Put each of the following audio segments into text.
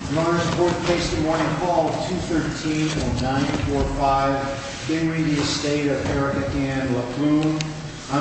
On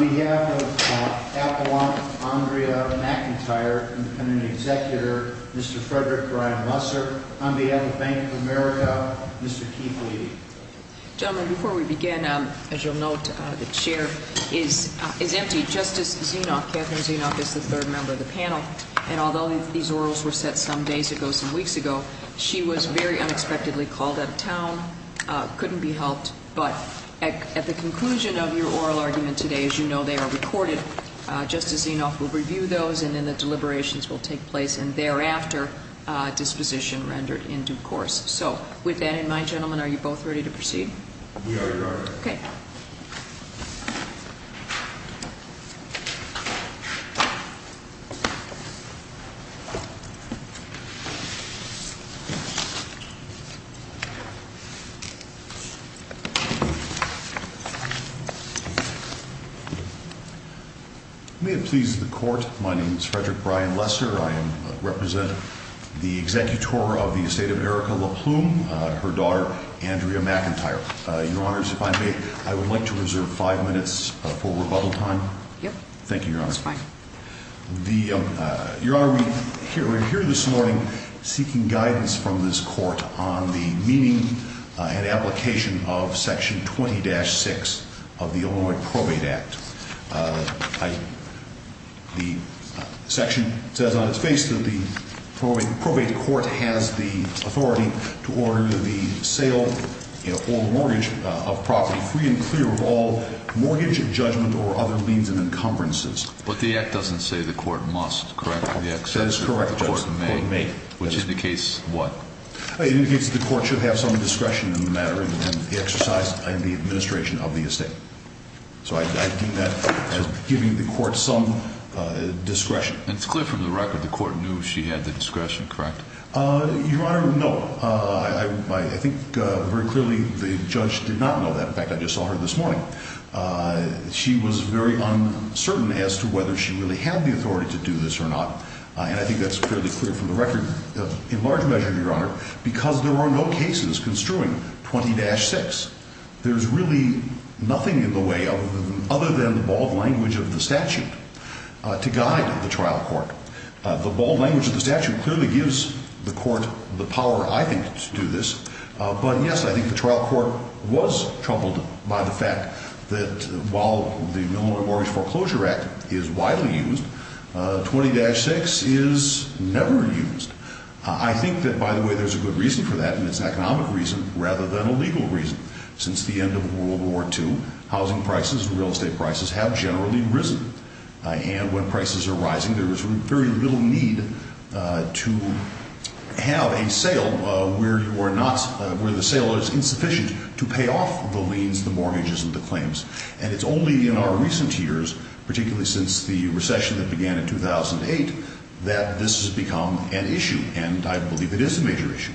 behalf of Apollon Andrea McIntyre and the executor, Mr. Frederick Ryan Lusser. On behalf of Bank of America, Mr. Keith Levy. Gentlemen, before we begin, as you'll note, the chair is empty. Justice Zinoff, Catherine Zinoff is the third member of the panel, and although these orals were set some days ago, some weeks ago, she was very unexpectedly called out of town, couldn't be helped. But at the conclusion of your oral argument today, as you know, they are recorded. Justice Zinoff will review those and then the deliberations will take place and thereafter disposition rendered in due course. So with that in mind, gentlemen, are you both ready to proceed? We are, Your Honor. Your Honor, if I may, I would like to reserve five minutes for rebuttal time. Yep. Thank you, Your Honor. That's fine. Your Honor, we're here this morning seeking guidance from this court on the meaning and application of section 20-6 of the Illinois Probate Act. The section says on its face that the probate court has the authority to order the sale or mortgage of property free and clear of all mortgage, judgment, or other means and encumbrances. But the act doesn't say the court must, correct? That is correct, Your Honor. The court may. Which indicates what? It indicates that the court should have some discretion in the matter and exercise in the administration of the estate. So I deem that as giving the court some discretion. It's clear from the record the court knew she had the discretion, correct? Your Honor, no. I think very clearly the judge did not know that. In fact, I just saw her this morning. She was very uncertain as to whether she really had the authority to do this or not. And I think that's fairly clear from the record in large measure, Your Honor, because there are no cases construing 20-6. There's really nothing in the way other than the bold language of the statute to guide the trial court. The bold language of the statute clearly gives the court the power, I think, to do this. But, yes, I think the trial court was troubled by the fact that while the Illinois Mortgage Foreclosure Act is widely used, 20-6 is never used. I think that, by the way, there's a good reason for that, and it's an economic reason rather than a legal reason. Since the end of World War II, housing prices and real estate prices have generally risen. And when prices are rising, there is very little need to have a sale where the sale is insufficient to pay off the liens, the mortgages, and the claims. And it's only in our recent years, particularly since the recession that began in 2008, that this has become an issue. And I believe it is a major issue.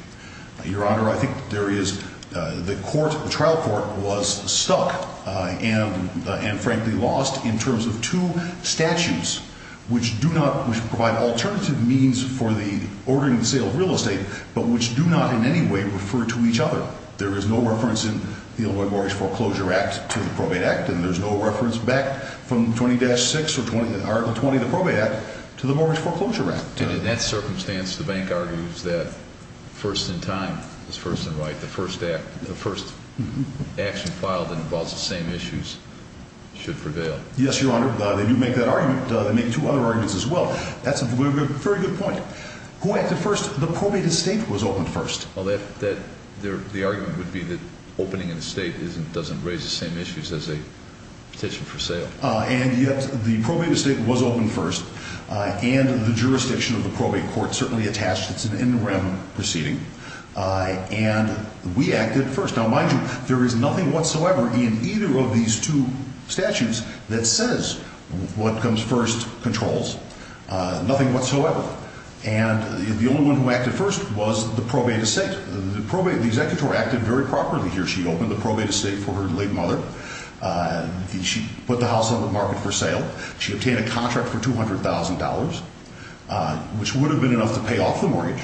Your Honor, I think there is the court, the trial court was stuck and, frankly, lost in terms of two statutes which do not, which provide alternative means for the ordering and sale of real estate, but which do not in any way refer to each other. There is no reference in the Illinois Mortgage Foreclosure Act to the Probate Act, and there's no reference back from 20-6 or 20, the Probate Act, to the Mortgage Foreclosure Act. And in that circumstance, the bank argues that first in time is first in right. The first act, the first action filed that involves the same issues should prevail. Yes, Your Honor. They do make that argument. They make two other arguments as well. That's a very good point. Go ahead. The first, the probate estate was opened first. Well, the argument would be that opening an estate doesn't raise the same issues as a petition for sale. And, yes, the probate estate was opened first, and the jurisdiction of the probate court certainly attached. It's an interim proceeding. And we acted first. Now, mind you, there is nothing whatsoever in either of these two statutes that says what comes first controls, nothing whatsoever. And the only one who acted first was the probate estate. The probate, the executor acted very properly here. She opened the probate estate for her late mother. She put the house on the market for sale. She obtained a contract for $200,000, which would have been enough to pay off the mortgage.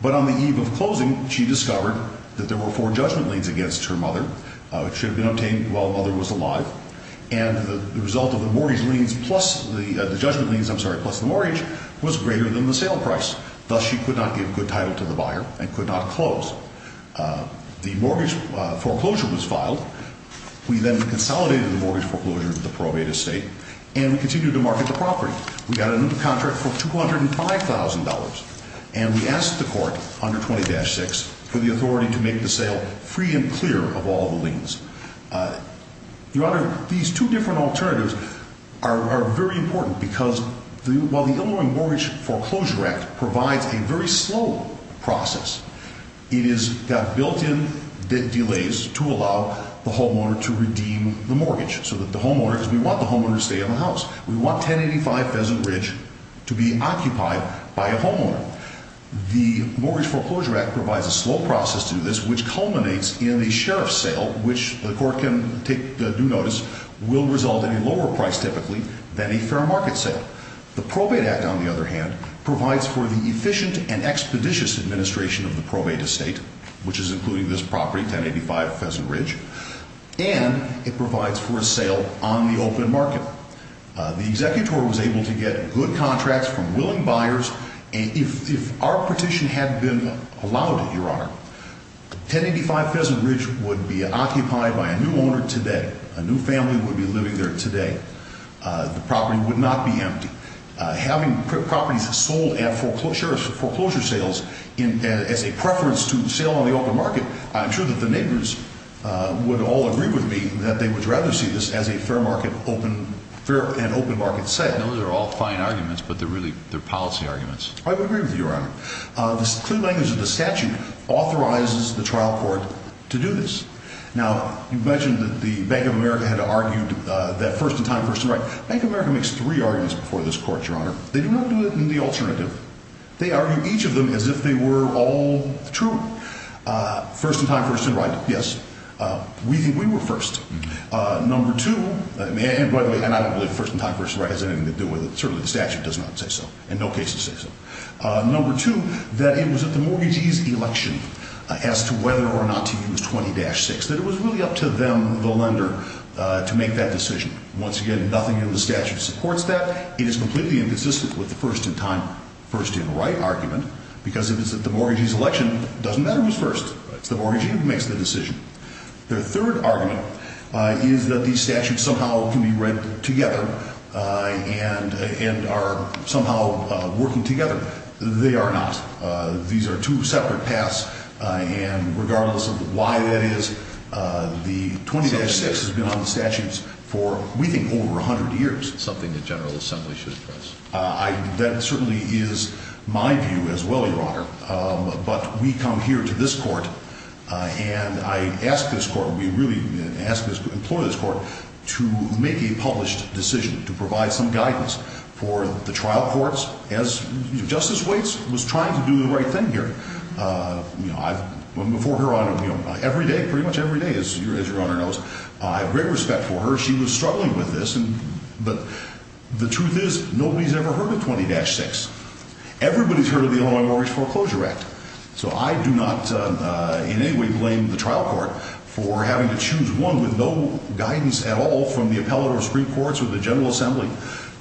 But on the eve of closing, she discovered that there were four judgment liens against her mother. It should have been obtained while the mother was alive. And the result of the mortgage liens plus the judgment liens, I'm sorry, plus the mortgage was greater than the sale price. Thus, she could not give good title to the buyer and could not close. The mortgage foreclosure was filed. We then consolidated the mortgage foreclosure with the probate estate, and we continued to market the property. We got a new contract for $205,000. And we asked the court under 20-6 for the authority to make the sale free and clear of all the liens. Your Honor, these two different alternatives are very important because while the Illinois Mortgage Foreclosure Act provides a very slow process, it has got built-in delays to allow the homeowner to redeem the mortgage. So that the homeowner, because we want the homeowner to stay in the house. We want 1085 Pheasant Ridge to be occupied by a homeowner. The Mortgage Foreclosure Act provides a slow process to do this, which culminates in a sheriff's sale, which the court can take due notice, will result in a lower price typically than a fair market sale. The Probate Act, on the other hand, provides for the efficient and expeditious administration of the probate estate, which is including this property, 1085 Pheasant Ridge. And it provides for a sale on the open market. The executor was able to get good contracts from willing buyers. And if our petition had been allowed, Your Honor, 1085 Pheasant Ridge would be occupied by a new owner today. A new family would be living there today. The property would not be empty. Having properties sold at foreclosure sales as a preference to sale on the open market, I'm sure that the neighbors would all agree with me that they would rather see this as a fair market and open market sale. Those are all fine arguments, but they're policy arguments. I would agree with you, Your Honor. The clear language of the statute authorizes the trial court to do this. Now, you mentioned that the Bank of America had argued that first in time, first in right. Bank of America makes three arguments before this court, Your Honor. They do not do it in the alternative. They argue each of them as if they were all true. First in time, first in right, yes. We think we were first. Number two, and by the way, I don't believe first in time, first in right has anything to do with it. Certainly the statute does not say so and no cases say so. Number two, that it was at the mortgagee's election as to whether or not to use 20-6, that it was really up to them, the lender, to make that decision. Once again, nothing in the statute supports that. It is completely inconsistent with the first in time, first in right argument because it is at the mortgagee's election. It doesn't matter who's first. It's the mortgagee who makes the decision. Their third argument is that these statutes somehow can be read together and are somehow working together. They are not. These are two separate paths, and regardless of why that is, the 20-6 has been on the statutes for, we think, over 100 years. Something the General Assembly should address. That certainly is my view as well, Your Honor, but we come here to this court, and I ask this court, we really implore this court to make a published decision, to provide some guidance for the trial courts as Justice Waits was trying to do the right thing here. Before Her Honor, every day, pretty much every day, as Your Honor knows, I have great respect for her. She was struggling with this, but the truth is nobody's ever heard of 20-6. Everybody's heard of the Illinois Mortgage Foreclosure Act, so I do not in any way blame the trial court for having to choose one with no guidance at all from the appellate or Supreme Courts or the General Assembly.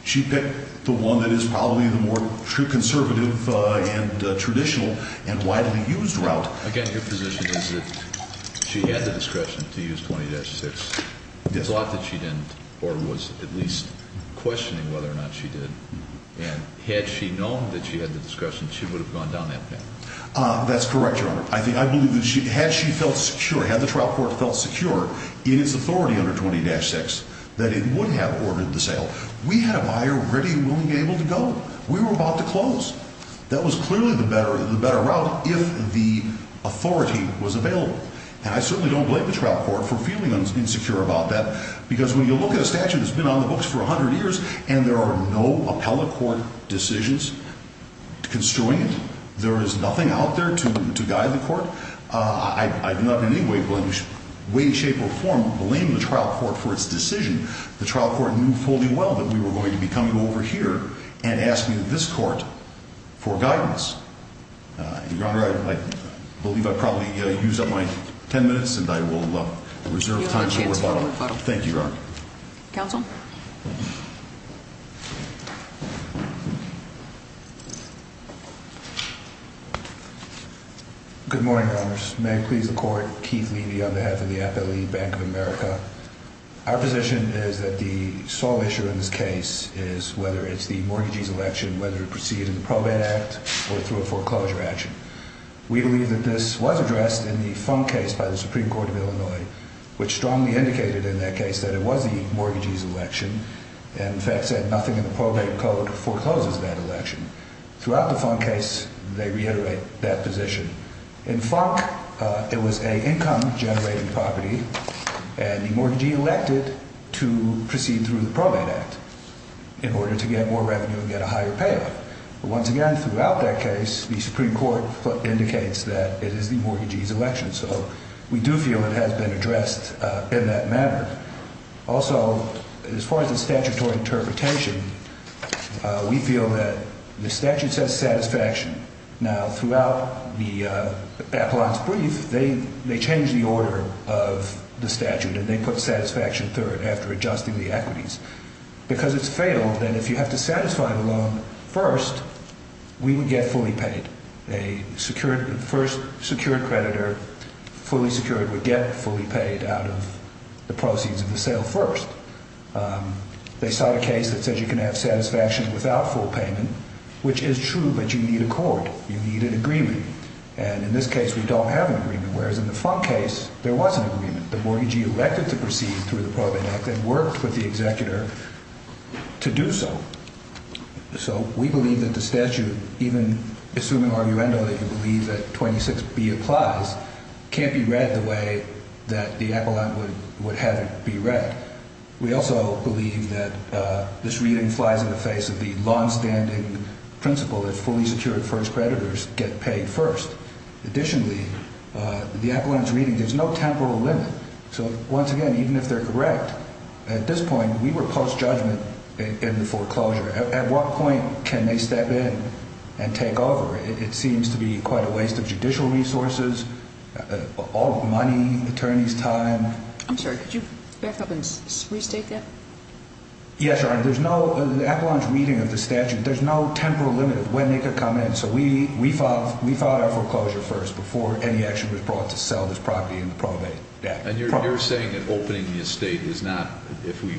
She picked the one that is probably the more conservative and traditional and widely used route. Again, your position is that she had the discretion to use 20-6. It's a lot that she didn't, or was at least questioning whether or not she did, and had she known that she had the discretion, she would have gone down that path. That's correct, Your Honor. I believe that had she felt secure, had the trial court felt secure in its authority under 20-6 that it would have ordered the sale, we had a buyer ready, willing, able to go. We were about to close. That was clearly the better route if the authority was available, and I certainly don't blame the trial court for feeling insecure about that, because when you look at a statute that's been on the books for 100 years and there are no appellate court decisions construing it, there is nothing out there to guide the court, I do not in any way, way, shape, or form blame the trial court for its decision. The trial court knew fully well that we were going to be coming over here and asking this court for guidance. Your Honor, I believe I probably used up my 10 minutes, and I will reserve time for a bottle. Thank you, Your Honor. Counsel? Good morning, Your Honors. May it please the Court, Keith Levy on behalf of the Appellate Bank of America. Our position is that the sole issue in this case is whether it's the mortgagee's election, whether it proceeds in the probate act, or through a foreclosure action. We believe that this was addressed in the Funk case by the Supreme Court of Illinois, which strongly indicated in that case that it was the mortgagee's election, and in fact said nothing in the probate code forecloses that election. Throughout the Funk case, they reiterate that position. In Funk, it was an income generating property, and the mortgagee elected to proceed through the probate act in order to get more revenue and get a higher payoff. Once again, throughout that case, the Supreme Court indicates that it is the mortgagee's election, so we do feel it has been addressed in that manner. Also, as far as the statutory interpretation, we feel that the statute says satisfaction. Now, throughout the appellant's brief, they change the order of the statute, and they put satisfaction third after adjusting the equities, because it's fatal that if you have to satisfy the loan first, we would get fully paid. A first secured creditor, fully secured, would get fully paid out of the proceeds of the sale first. They sought a case that says you can have satisfaction without full payment, which is true, but you need a court. You need an agreement, and in this case, we don't have an agreement, whereas in the Funk case, there was an agreement. The mortgagee elected to proceed through the probate act and worked with the executor to do so. So we believe that the statute, even assuming arguendo that you believe that 26B applies, can't be read the way that the appellant would have it be read. We also believe that this reading flies in the face of the longstanding principle that fully secured first creditors get paid first. Additionally, the appellant's reading gives no temporal limit, so once again, even if they're correct, at this point, we were post-judgment in the foreclosure. At what point can they step in and take over? It seems to be quite a waste of judicial resources, all the money, attorney's time. I'm sorry, could you back up and restate that? Yes, Your Honor. The appellant's reading of the statute, there's no temporal limit of when they could come in, so we filed our foreclosure first before any action was brought to sell this property in the probate act. And you're saying that opening the estate is not, if we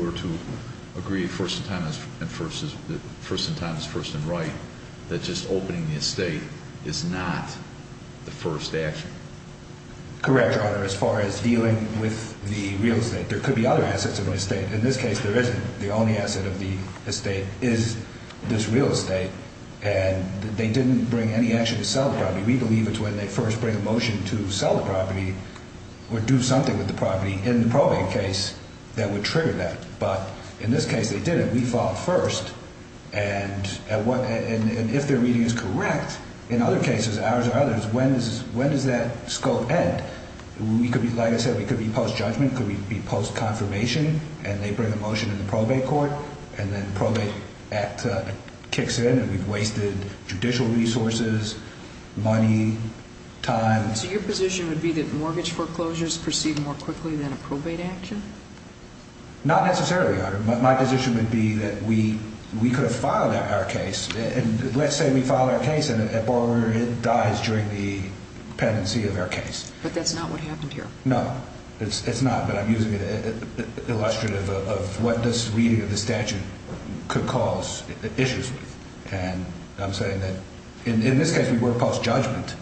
were to agree first in time is first and right, that just opening the estate is not the first action? Correct, Your Honor. As far as dealing with the real estate, there could be other assets of an estate. In this case, there isn't. The only asset of the estate is this real estate, and they didn't bring any action to sell the property. We believe it's when they first bring a motion to sell the property or do something with the property in the probate case that would trigger that. But in this case, they didn't. We filed first, and if their reading is correct, in other cases, ours or others, when does that scope end? Like I said, it could be post-judgment. It could be post-confirmation, and they bring a motion in the probate court, and then probate act kicks in, and we've wasted judicial resources, money, time. So your position would be that mortgage foreclosures proceed more quickly than a probate action? Not necessarily, Your Honor. My position would be that we could have filed our case, and let's say we file our case, and a borrower dies during the pendency of our case. But that's not what happened here. No, it's not, but I'm using it illustrative of what this reading of the statute could cause issues with. And I'm saying that in this case, we work post-judgment.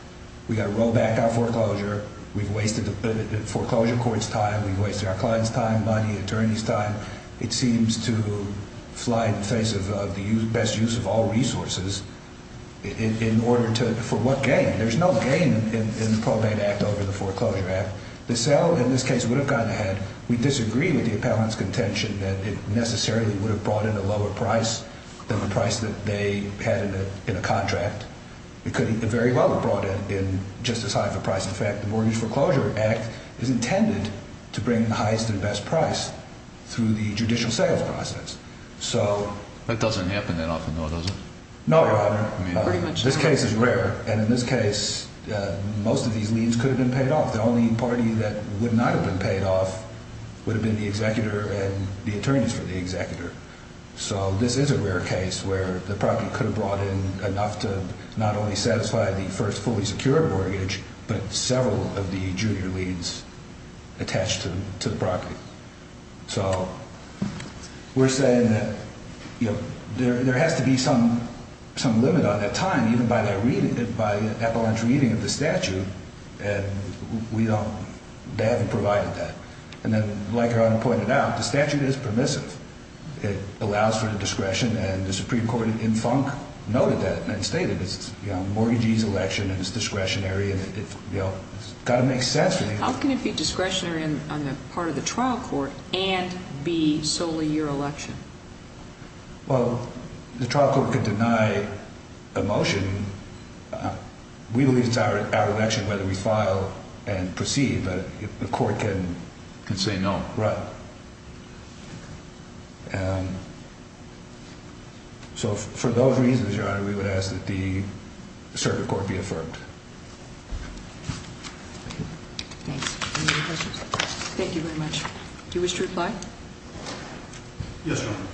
We've got to roll back our foreclosure. We've wasted the foreclosure court's time. We've wasted our client's time, money, attorney's time. It seems to fly in the face of the best use of all resources in order to for what gain? There's no gain in the probate act over the foreclosure act. The sale in this case would have gone ahead. We disagree with the appellant's contention that it necessarily would have brought in a lower price than the price that they had in a contract. It could very well have brought in just as high of a price. In fact, the Mortgage Foreclosure Act is intended to bring the highest and best price through the judicial sales process. That doesn't happen that often, though, does it? No, Your Honor. This case is rare, and in this case, most of these leads could have been paid off. The only party that would not have been paid off would have been the executor and the attorneys for the executor. So this is a rare case where the property could have brought in enough to not only satisfy the first fully secure mortgage but several of the junior leads attached to the property. So we're saying that there has to be some limit on that time, even by the appellant's reading of the statute, and they haven't provided that. And then, like Your Honor pointed out, the statute is permissive. It allows for discretion, and the Supreme Court in Funk noted that and stated it's mortgagee's election and it's discretionary, and it's got to make sense. How can it be discretionary on the part of the trial court and be solely your election? Well, the trial court can deny a motion. We believe it's our election whether we file and proceed, but the court can say no. So for those reasons, Your Honor, we would ask that the circuit court be affirmed. Thanks. Any other questions? Thank you very much. Do you wish to reply? Yes, Your Honor.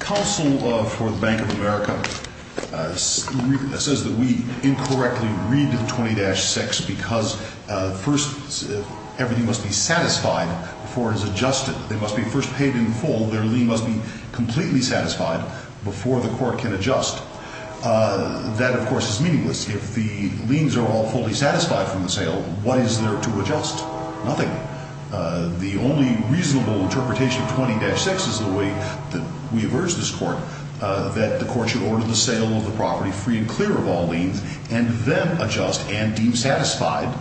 Counsel for the Bank of America says that we incorrectly read 20-6 because first everything must be satisfied before it is adjusted. They must be first paid in full. Their lien must be completely satisfied before the court can adjust. That, of course, is meaningless. If the liens are all fully satisfied from the sale, what is there to adjust? Nothing. The only reasonable interpretation of 20-6 is the way that we have urged this court that the court should order the sale of the property free and clear of all liens and then adjust and deem satisfied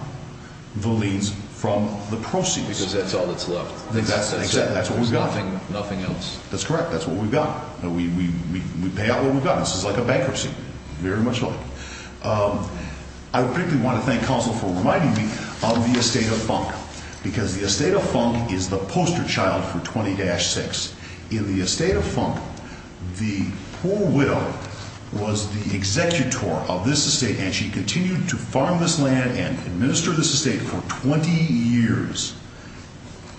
the liens from the proceeds. Because that's all that's left. Exactly. That's what we've got. Nothing else. That's correct. That's what we've got. We pay out what we've got. This is like a bankruptcy. Very much like. I particularly want to thank counsel for reminding me of the estate of Funk because the estate of Funk is the poster child for 20-6. In the estate of Funk, the poor widow was the executor of this estate and she continued to farm this land and administer this estate for 20 years.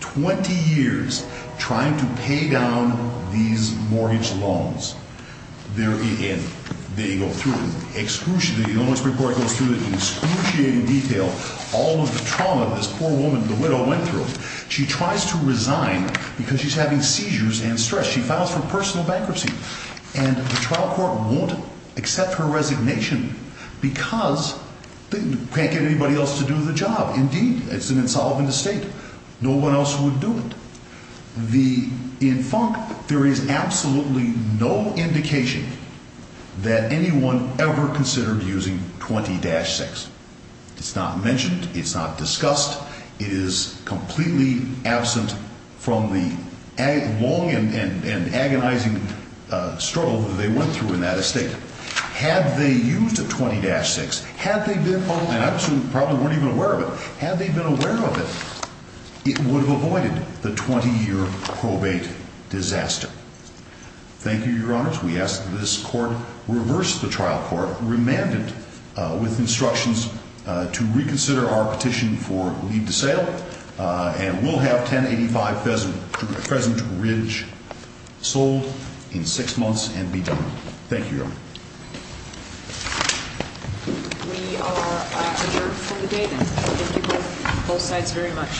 20 years trying to pay down these mortgage loans. And they go through. The loan expert court goes through in excruciating detail all of the trauma this poor woman, the widow, went through. She tries to resign because she's having seizures and stress. She files for personal bankruptcy. And the trial court won't accept her resignation because they can't get anybody else to do the job. Indeed, it's an insolvent estate. No one else would do it. In Funk, there is absolutely no indication that anyone ever considered using 20-6. It's not mentioned. It's not discussed. It is completely absent from the long and agonizing struggle that they went through in that estate. Had they used a 20-6, had they been, and I assume probably weren't even aware of it, had they been aware of it, it would have avoided the 20-year probate disaster. Thank you, Your Honors. We ask that this court reverse the trial court, remand it with instructions to reconsider our petition for leave to sale, and we'll have 1085 Pheasant Ridge sold in six months and be done. Thank you, Your Honor. We are adjourned for the day, then. Thank you, both sides, very much.